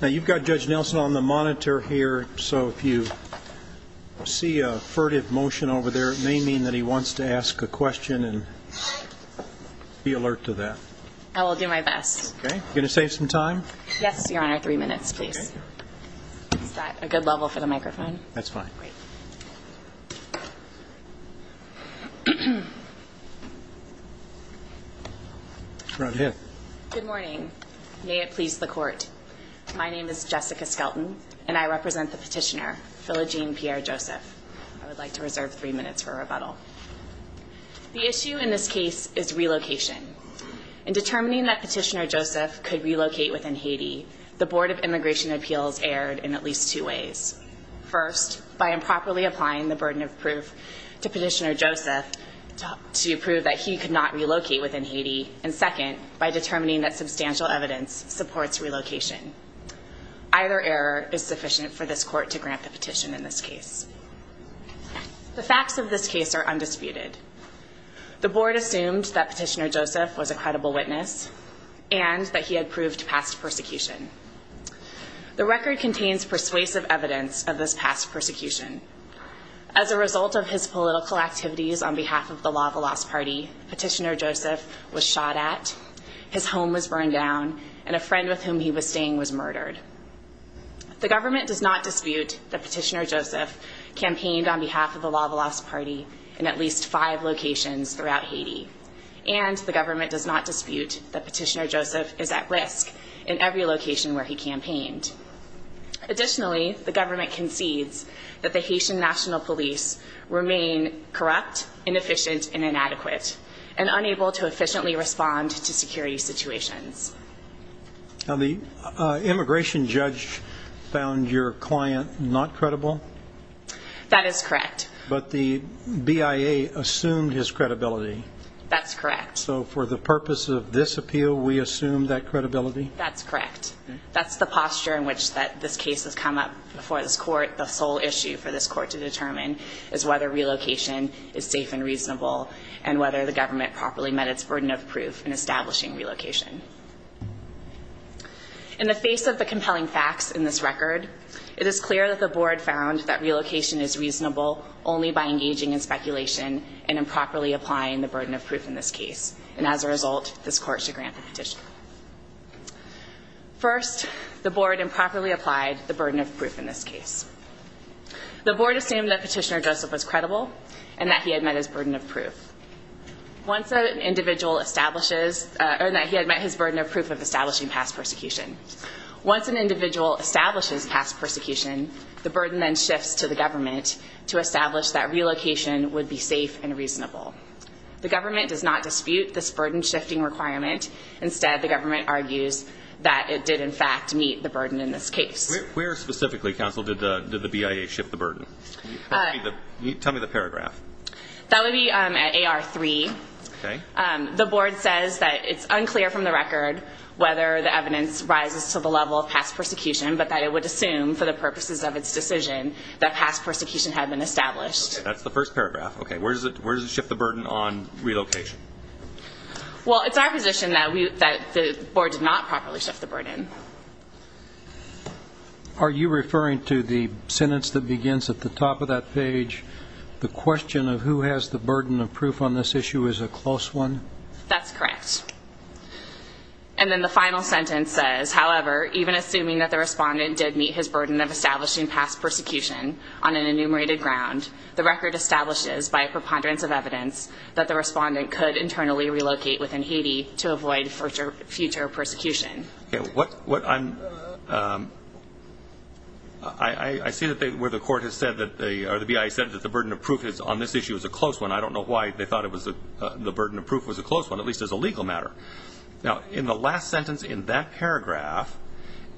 Now you've got Judge Nelson on the monitor here so if you see a furtive motion over there it may mean that he wants to ask a question and be alert to that. I will do my best. Okay, gonna save some time? Yes, your honor, three minutes please. Is that a good level for the microphone? That's fine. Right here. Good morning. May it please the court. My name is Jessica Skelton and I represent the petitioner, Philogene Pierre-Joseph. I would like to reserve three minutes for rebuttal. The issue in this case is relocation. In determining that petitioner Joseph could relocate within Haiti, the Board of Immigration improperly applying the burden of proof to petitioner Joseph to prove that he could not relocate within Haiti, and second, by determining that substantial evidence supports relocation. Either error is sufficient for this court to grant the petition in this case. The facts of this case are undisputed. The Board assumed that petitioner Joseph was a credible witness and that he had proved past persecution. The record contains persuasive evidence of this past persecution. As a result of his political activities on behalf of the Lavalasse party, petitioner Joseph was shot at, his home was burned down, and a friend with whom he was staying was murdered. The government does not dispute that petitioner Joseph campaigned on behalf of the Lavalasse party in at least five locations throughout Haiti, and the government does not dispute that petitioner Joseph is at risk in every location where he campaigned. Additionally, the government concedes that the Haitian National Police remain corrupt, inefficient, and inadequate, and unable to efficiently respond to security situations. Now the immigration judge found your client not credible? That is correct. But the BIA assumed his credibility? That's correct. So for the purpose of this appeal, we assume that credibility? That's correct. That's the before this court, the sole issue for this court to determine is whether relocation is safe and reasonable, and whether the government properly met its burden of proof in establishing relocation. In the face of the compelling facts in this record, it is clear that the Board found that relocation is reasonable only by engaging in speculation and improperly applying the burden of proof in this case. And as a result, this court should grant the First, the Board improperly applied the burden of proof in this case. The Board assumed that petitioner Joseph was credible, and that he had met his burden of proof. Once an individual establishes, or that he had met his burden of proof of establishing past persecution. Once an individual establishes past persecution, the burden then shifts to the government to establish that relocation would be safe and reasonable. The government does not dispute this in fact meet the burden in this case. Where specifically counsel did the BIA shift the burden? Tell me the paragraph. That would be at AR 3. Okay. The Board says that it's unclear from the record whether the evidence rises to the level of past persecution, but that it would assume for the purposes of its decision that past persecution had been established. That's the first paragraph. Okay, where does it shift the burden on relocation? Well, it's our position that we, that the Board did not properly shift the burden. Are you referring to the sentence that begins at the top of that page? The question of who has the burden of proof on this issue is a close one? That's correct. And then the final sentence says, however, even assuming that the respondent did meet his burden of establishing past persecution on an enumerated ground, the record establishes by a preponderance of evidence that the respondent could internally relocate within Haiti to avoid future persecution. What I'm, I see that they, where the court has said that they, or the BIA said that the burden of proof is on this issue is a close one. I don't know why they thought it was a, the burden of proof was a close one, at least as a legal matter. Now, in the last sentence in that paragraph,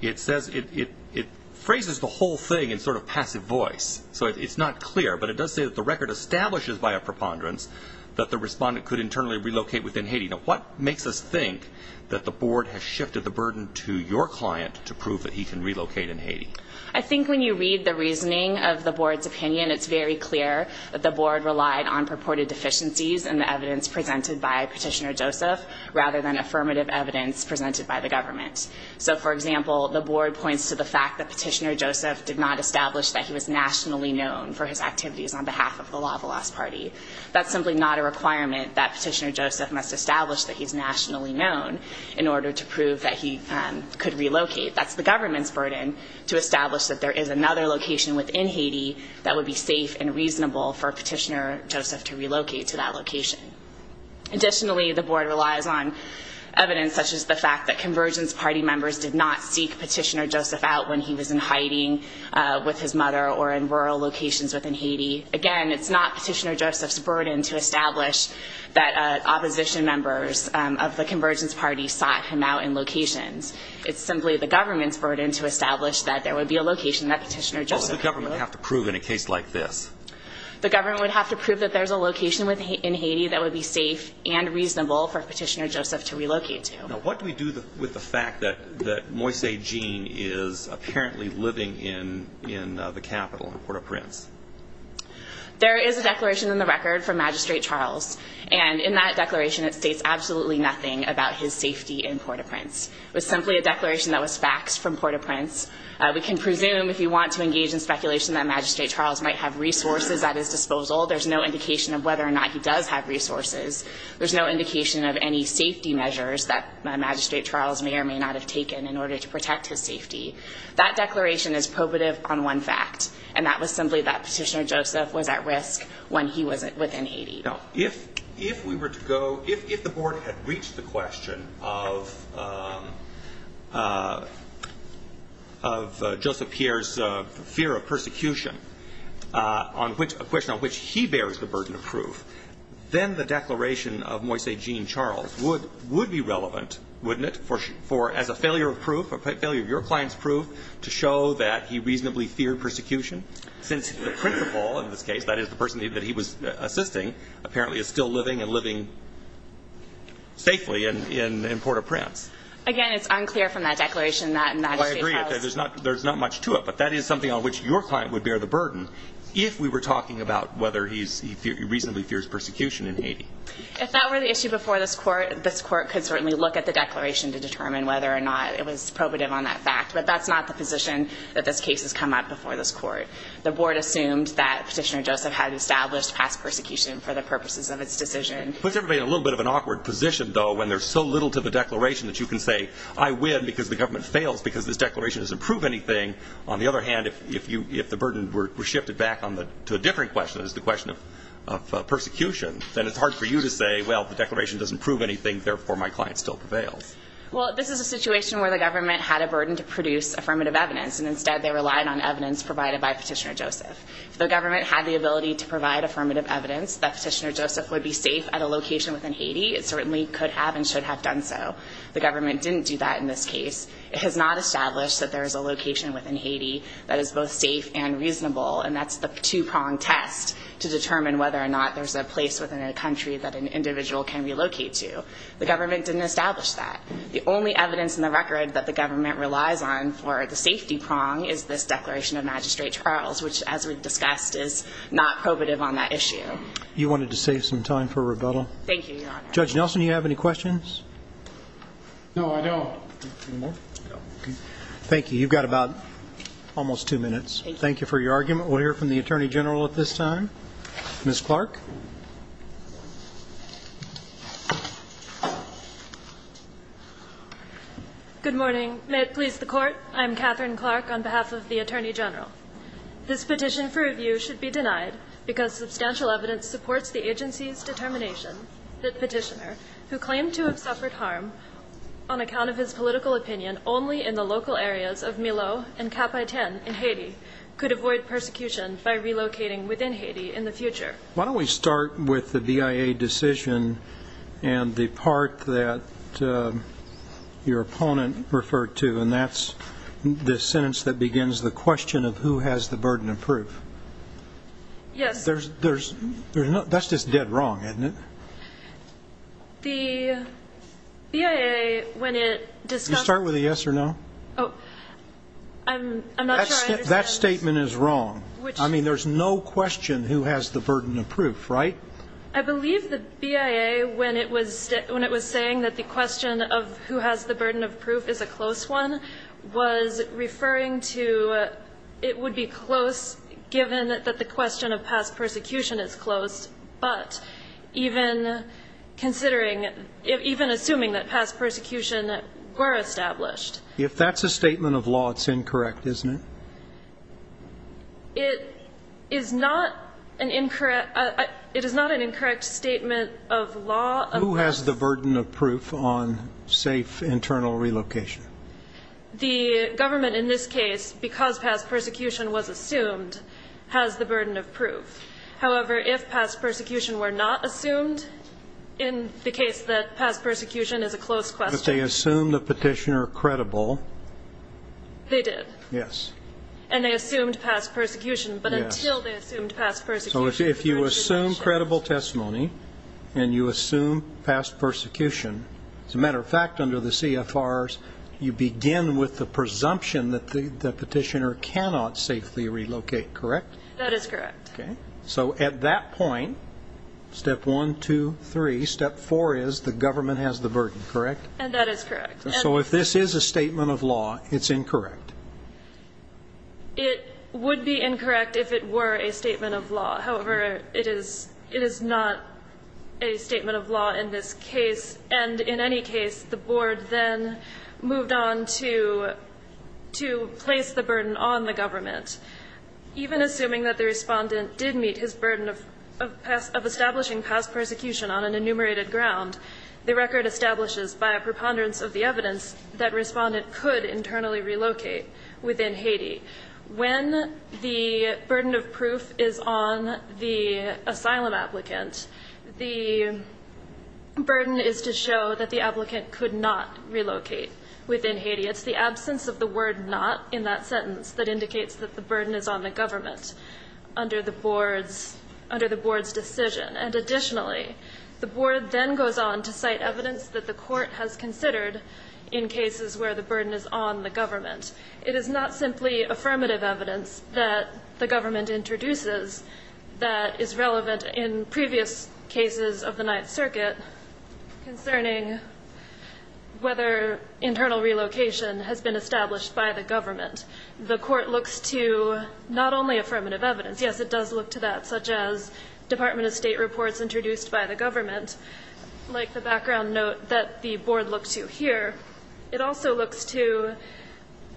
it says it, it, it phrases the whole thing in sort of passive voice. So it's not clear, but it does say that the record establishes by preponderance that the respondent could internally relocate within Haiti. Now, what makes us think that the board has shifted the burden to your client to prove that he can relocate in Haiti? I think when you read the reasoning of the board's opinion, it's very clear that the board relied on purported deficiencies and the evidence presented by Petitioner Joseph rather than affirmative evidence presented by the government. So, for example, the board points to the fact that Petitioner Joseph did not establish that he was nationally known for his That's simply not a requirement that Petitioner Joseph must establish that he's nationally known in order to prove that he could relocate. That's the government's burden to establish that there is another location within Haiti that would be safe and reasonable for Petitioner Joseph to relocate to that location. Additionally, the board relies on evidence such as the fact that convergence party members did not seek Petitioner Joseph out when he was in hiding with his mother or in rural locations within Haiti. Again, it's not Petitioner Joseph's burden to establish that opposition members of the convergence party sought him out in locations. It's simply the government's burden to establish that there would be a location that Petitioner Joseph Would the government have to prove in a case like this? The government would have to prove that there's a location in Haiti that would be safe and reasonable for Petitioner Joseph to relocate to. Now, what do we do with the fact that Moise Jean is apparently living in the capital in Port-au-Prince? There is a declaration in the record from Magistrate Charles. And in that declaration, it states absolutely nothing about his safety in Port-au-Prince. It was simply a declaration that was faxed from Port-au-Prince. We can presume if you want to engage in speculation that Magistrate Charles might have resources at his disposal, there's no indication of whether or not he does have resources. There's no indication of any safety measures that Magistrate Charles may or may not have taken in order to protect his safety. That declaration is probative on one fact. And that was simply that Petitioner Joseph was at risk when he was within Haiti. Now, if we were to go, if the board had reached the question of Joseph Pierre's fear of persecution, a question on which he bears the burden of proof, then the declaration of Moise Jean Charles would be relevant, wouldn't it? As a failure of proof, a failure of your client's proof to show that he reasonably feared persecution, since the principal, in this case, that is the person that he was assisting, apparently is still living and living safely in Port-au-Prince. Again, it's unclear from that declaration that Magistrate Charles... Well, I agree. There's not much to it. But that is something on which your client would bear the burden if we were talking about whether he reasonably fears persecution in Haiti. If that were the issue before this Court, this Court could certainly look at the declaration to determine whether or not it was probative on that fact. But that's not the position that this case has come up before this Court. The board assumed that Petitioner Joseph had established past persecution for the purposes of its decision. Puts everybody in a little bit of an awkward position, though, when there's so little to the declaration that you can say, I win because the government fails because this declaration doesn't prove anything. On the other hand, if the burden were shifted back to a different question, that is the question of persecution, then it's hard for you to say, well, the declaration doesn't prove anything, therefore my client still prevails. Well, this is a situation where the government had a burden to produce affirmative evidence, and instead they relied on evidence provided by Petitioner Joseph. If the government had the ability to provide affirmative evidence that Petitioner Joseph would be safe at a location within Haiti, it certainly could have and should have done so. The government didn't do that in this case. It has not established that there is a location within Haiti that is both safe and reasonable, and that's the two-pronged test to determine whether or not there's a place within a country that an individual can relocate to. The government didn't establish that. The only evidence in the record that the government relies on for the safety prong is this declaration of magistrate trials, which, as we've discussed, is not probative on that issue. You wanted to save some time for rebuttal. Thank you, Your Honor. Judge Nelson, do you have any questions? No, I don't. Thank you. You've got about almost two minutes. Thank you for your argument. We'll hear from the Attorney General at this time. Ms. Clark. Good morning. May it please the Court. I'm Catherine Clark on behalf of the Attorney General. This petition for review should be denied because substantial evidence supports the agency's determination that petitioner who claimed to have suffered harm on account of his political opinion only in the local areas of Milo and Cap-i-Ten in Haiti could avoid persecution by relocating within Haiti in the future. The part that your opponent referred to, and that's the sentence that begins the question of who has the burden of proof. Yes. There's, there's, there's no, that's just dead wrong, isn't it? The BIA, when it discussed. You start with a yes or no. Oh, I'm, I'm not sure I understand. That statement is wrong. Which. I mean, there's no question who has the burden of proof, right? I believe the BIA, when it was, when it was saying that the question of who has the burden of proof is a close one, was referring to, it would be close given that the question of past persecution is closed, but even considering, even assuming that past persecution were established. If that's a statement of law, it's incorrect, isn't it? It is not an incorrect, it is not an incorrect statement of law. Who has the burden of proof on safe internal relocation? The government in this case, because past persecution was assumed, has the burden of proof. However, if past persecution were not assumed in the case that past persecution is a close question. They assume the petitioner credible. They did. Yes. And they assumed past persecution, but until they assumed past persecution, if you assume credible testimony and you assume past persecution, as a matter of fact, under the CFRs, you begin with the presumption that the, the petitioner cannot safely relocate, correct? That is correct. Okay. So at that point, step one, two, three, step four is the government has the burden, correct? And that is correct. So if this is a statement of law, it's incorrect. It would be incorrect if it were a statement of law. However, it is, it is not a statement of law in this case. And in any case, the board then moved on to, to place the burden on the government. Even assuming that the respondent did meet his burden of, of past, of establishing past persecution on an enumerated ground, the record establishes by a preponderance of the evidence that respondent could internally relocate within Haiti. When the burden of proof is on the asylum applicant, the burden is to show that the applicant could not relocate within Haiti. It's the absence of the word not in that sentence that indicates that the burden is on the government under the board's, under the board's decision. And additionally, the board then goes on to cite evidence that the court has considered in cases where the burden is on the government. It is not simply affirmative evidence that the government introduces that is relevant in previous cases of the Ninth Circuit concerning whether internal relocation has been established by the government. The court looks to not only affirmative evidence. Yes, it does look to that, such as Department of State reports introduced by the court, but it also looks to, here, it also looks to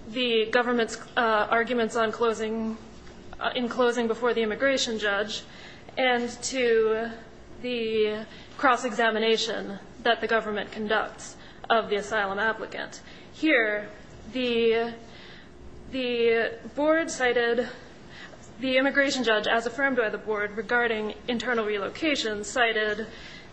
the government's arguments on closing, in closing before the immigration judge, and to the cross-examination that the government conducts of the asylum applicant. Here, the, the board cited the immigration judge as affirmed by the board regarding internal relocation cited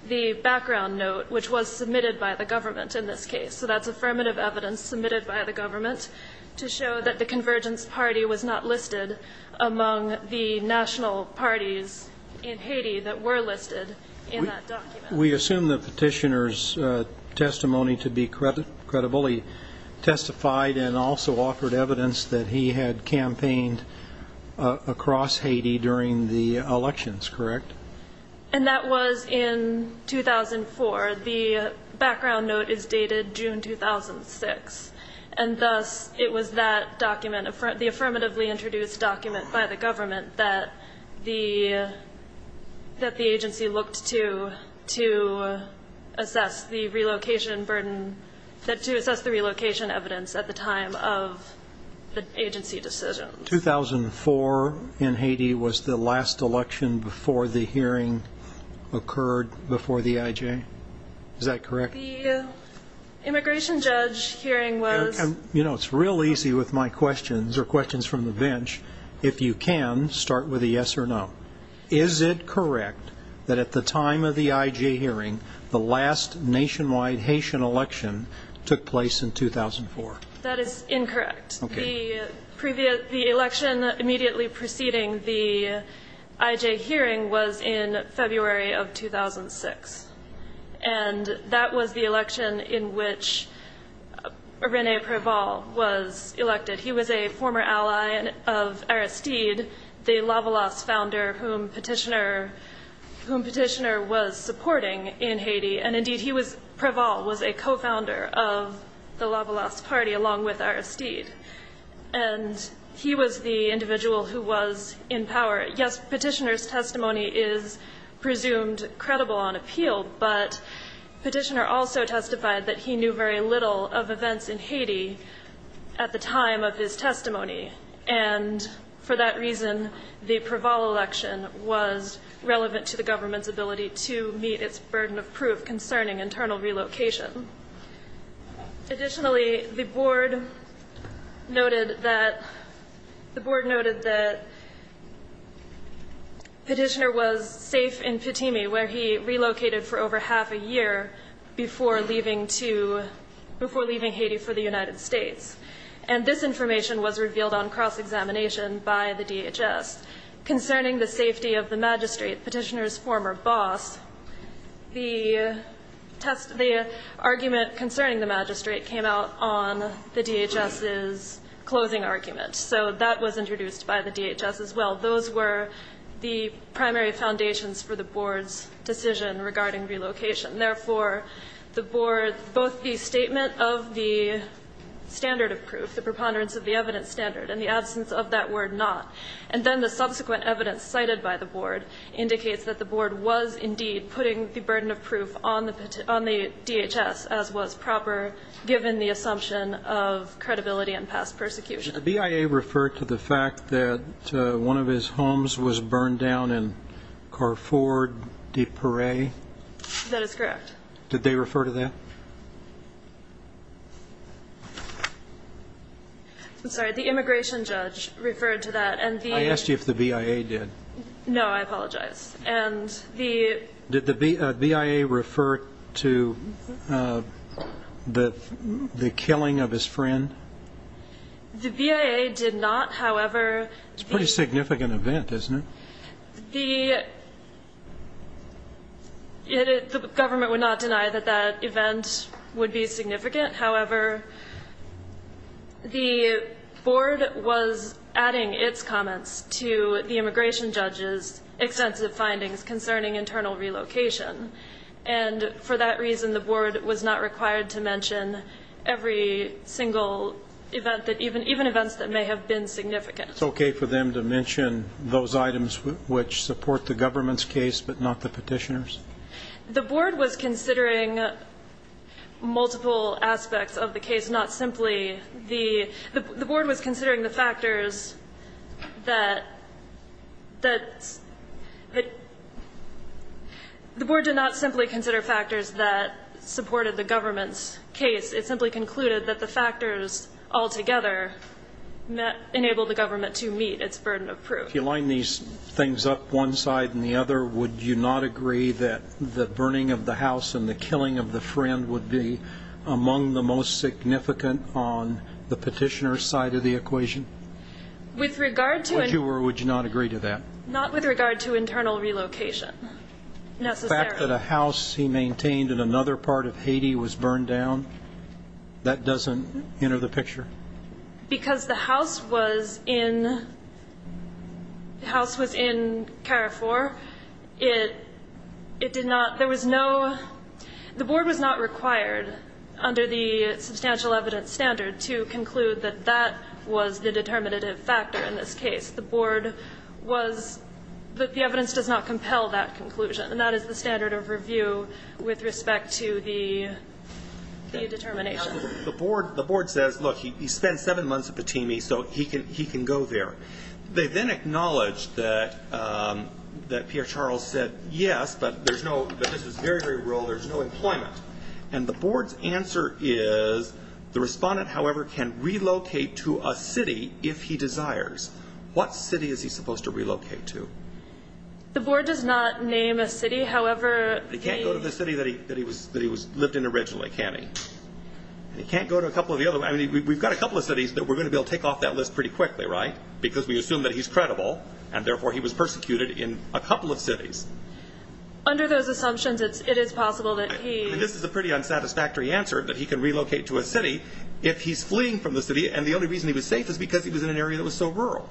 the background note which was submitted by the government in this case. So that's affirmative evidence submitted by the government to show that the Convergence Party was not listed among the national parties in Haiti that were listed in that document. We assume the petitioner's testimony to be credibly testified and also offered evidence that he had campaigned across Haiti during the elections, correct? And that was in 2004. The background note is dated June 2006, and thus, it was that document, the affirmatively introduced document by the government that the, that the agency looked to, to assess the relocation burden, that to assess the relocation evidence at the time of the agency decision. 2004 in Haiti was the last election before the hearing occurred before the IJ? Is that correct? The immigration judge hearing was... You know, it's real easy with my questions, or questions from the bench. If you can, start with a yes or no. Is it correct that at the time of the IJ hearing, the last nationwide Haitian election took place in 2004? That is incorrect. Okay. The election immediately preceding the IJ hearing was in February of 2006. And that was the election in which René Préval was elected. He was a former ally of Aristide, the Lavalas founder whom petitioner, whom petitioner was supporting in Haiti, and indeed he was, Préval was a co-founder of the Lavalas party along with Aristide. And he was the individual who was in power. Yes, petitioner's testimony is presumed credible on appeal, but petitioner also testified that he knew very little of events in Haiti at the time of his testimony. And for that reason, the Préval election was relevant to the government's ability to meet its burden of proof concerning internal relocation. Additionally, the board noted that, the board noted that petitioner was safe in Pitimi where he relocated for over half a year before leaving to, before leaving Haiti for the United States. And this information was revealed on cross-examination by the DHS concerning the safety of the magistrate, petitioner's former boss. The test, the argument concerning the magistrate came out on the DHS's closing argument. So that was introduced by the DHS as well. Those were the primary foundations for the board's decision regarding relocation. Therefore, the board, both the statement of the standard of proof, the preponderance of the evidence standard, and the absence of that word not, and then the subsequent evidence cited by the board indicates that the board was indeed putting the burden of proof on the, on the DHS as was proper, given the assumption of credibility and past persecution. Did the BIA refer to the fact that one of his homes was burned down in Carrefour-de-Pourrie? That is correct. Did they refer to that? I'm sorry, the immigration judge referred to that. I asked you if the BIA did. No, I apologize. And the... Did the BIA refer to the killing of his friend? The BIA did not, however... It's a pretty significant event, isn't it? The government would not deny that that event would be significant. However, the board was adding its comments to the immigration judge's extensive findings concerning internal relocation, and for that reason the board was not required to mention every single event that, even events that may have been significant. It's okay for them to mention those items which support the government's case but not the petitioner's? The board was considering multiple aspects of the case, not simply the... The board was considering the factors that... The board did not simply consider factors that supported the government's case. It simply concluded that the factors altogether enabled the government to meet its burden of proof. If you line these things up, one side and the other, would you not agree that the burning of the house and the killing of the friend would be among the most significant on the petitioner's side of the equation? With regard to... Would you or would you not agree to that? Not with regard to internal relocation, necessarily. The fact that a house he maintained in another part of Haiti was burned down, that doesn't enter the picture? Because the house was in... The house was in Carrefour, it did not... There was no... The board was not required, under the substantial evidence standard, to conclude that that was the determinative factor in this case. The board was... The evidence does not compel that conclusion, and that is the standard of review with respect to the determination. The board says, look, he spent seven months at Batimi, so he can go there. They then acknowledge that Pierre Charles said, yes, but this is very, very rural, there's no employment. And the board's answer is, the respondent, however, can relocate to a city if he desires. What city is he supposed to relocate to? The board does not name a city, however... He can't go to the city that he lived in originally, can he? He can't go to a couple of the other... We've got a couple of cities that we're going to be able to take off that list pretty quickly, right? Because we assume that he's credible, and therefore he was persecuted in a couple of cities. Under those assumptions, it is possible that he... This is a pretty unsatisfactory answer, that he can relocate to a city if he's fleeing from the city, and the only reason he was safe is because he was in an area that was so rural.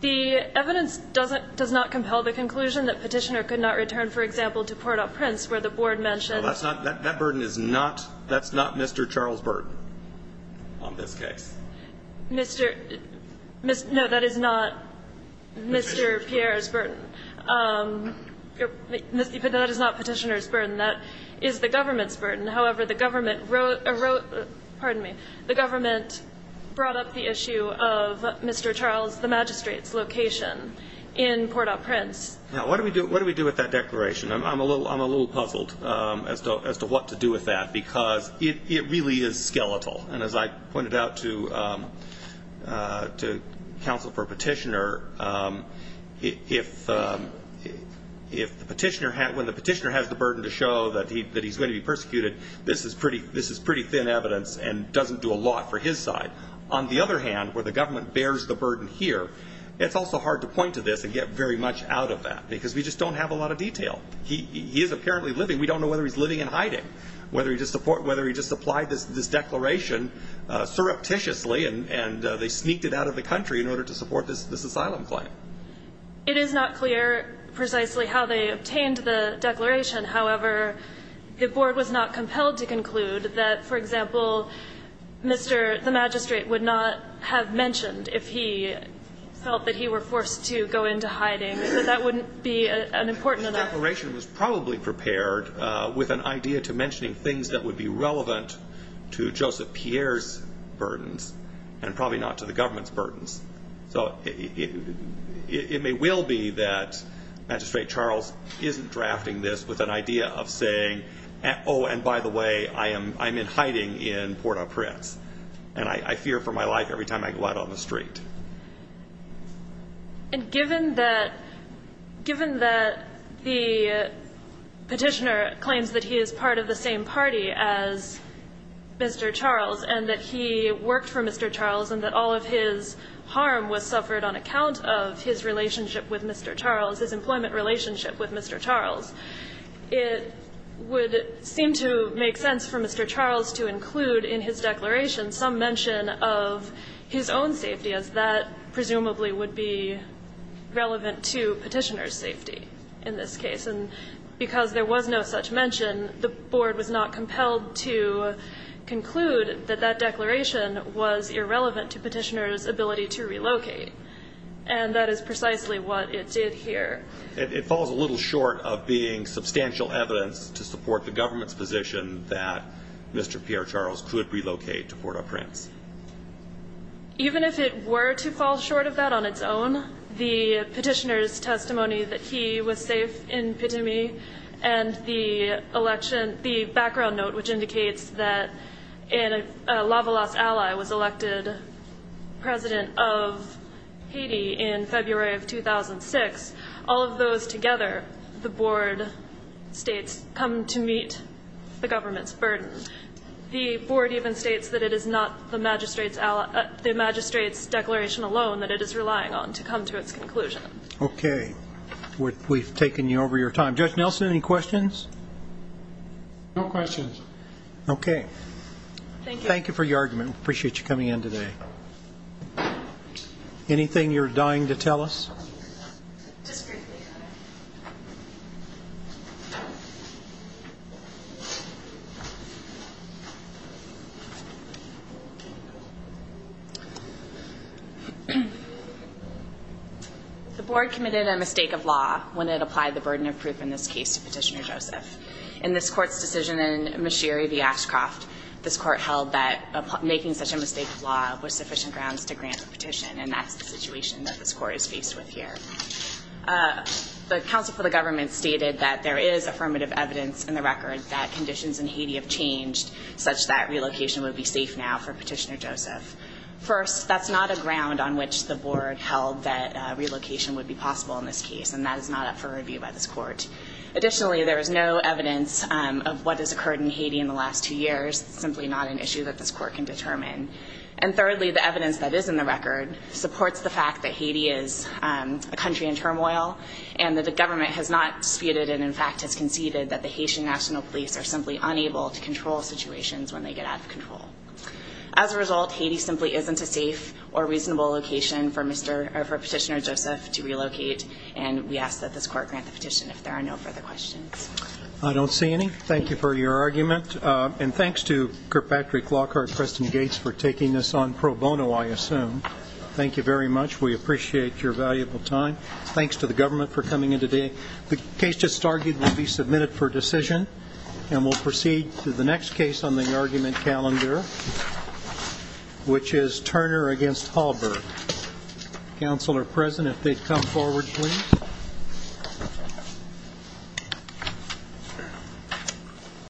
The evidence does not compel the conclusion that Petitioner could not return, for example, to Port-au-Prince, where the board mentioned... That burden is not Mr. Charles' burden on this case. No, that is not Mr. Pierre's burden. But that is not Petitioner's burden. That is the government's burden. However, the government wrote... Pardon me. The government brought up the issue of Mr. Charles, the magistrate's location in Port-au-Prince. Now, what do we do with that declaration? I'm a little puzzled as to what to do with that, because it really is skeletal. And as I pointed out to counsel for Petitioner, when the Petitioner has the burden to show that he's going to be persecuted, this is pretty thin evidence and doesn't do a lot for his side. On the other hand, where the government bears the burden here, it's also hard to point to this and get very much out of that, because we just don't have a lot of detail. He is apparently living. We don't know whether he's living in hiding, whether he just applied this declaration surreptitiously and they sneaked it out of the country in order to support this asylum claim. It is not clear precisely how they obtained the declaration. However, the board was not compelled to conclude that, for example, the magistrate would not have mentioned if he felt that he were forced to go into hiding, that that wouldn't be important enough. The declaration was probably prepared with an idea to mentioning things that would be relevant to Joseph Pierre's burdens and probably not to the government's burdens. So it may well be that Magistrate Charles isn't drafting this with an idea of saying, oh, and by the way, I'm in hiding in Port-au-Prince, and I fear for my life every time I go out on the street. And given that the petitioner claims that he is part of the same party as Mr. Charles and that he worked for Mr. Charles and that all of his harm was suffered on account of his relationship with Mr. Charles, his employment relationship with Mr. Charles, it would seem to make sense for Mr. Charles to include in his declaration some mention of his own safety, as that presumably would be relevant to petitioner's safety in this case. And because there was no such mention, the board was not compelled to conclude that that declaration was irrelevant to petitioner's ability to relocate. And that is precisely what it did here. It falls a little short of being substantial evidence to support the government's position that Mr. Pierre Charles could relocate to Port-au-Prince. Even if it were to fall short of that on its own, the petitioner's testimony that he was safe in Pitimi and the election, the background note which indicates that a Lavalasse ally was elected president of Haiti in February of 2006 all of those together the board states come to meet the government's burden. The board even states that it is not the magistrate's declaration alone that it is relying on to come to its conclusion. Okay. We've taken you over your time. Judge Nelson, any questions? No questions. Okay. Thank you. Thank you for your argument. We appreciate you coming in today. Anything you're dying to tell us? Just briefly. The board committed a mistake of law when it applied the burden of proof in this case to Petitioner Joseph. In this court's decision in Mashiri v. Ashcroft, this court held that making such a mistake of law was sufficient grounds to grant a petition, and that's the situation that this court is faced with here. The counsel for the government stated that there is affirmative evidence in the record that conditions in Haiti have changed such that relocation would be safe now for Petitioner Joseph. First, that's not a ground on which the board held that relocation would be possible in this case, and that is not up for review by this court. Additionally, there is no evidence of what has occurred in Haiti in the last two years. It's simply not an issue that this court can determine. And thirdly, the evidence that is in the record supports the fact that Haiti is a country in turmoil and that the government has not disputed and, in fact, has conceded that the Haitian National Police are simply unable to control situations when they get out of control. As a result, Haiti simply isn't a safe or reasonable location for Petitioner Joseph to relocate, and we ask that this court grant the petition if there are no further questions. I don't see any. Thank you for your argument. And thanks to Kirkpatrick, Lockhart, Preston Gates for taking this on pro bono, I assume. Thank you very much. We appreciate your valuable time. Thanks to the government for coming in today. The case just argued will be submitted for decision, and we'll proceed to the next case on the argument calendar, which is Turner v. Hallberg. Counsel are present if they'd come forward, please.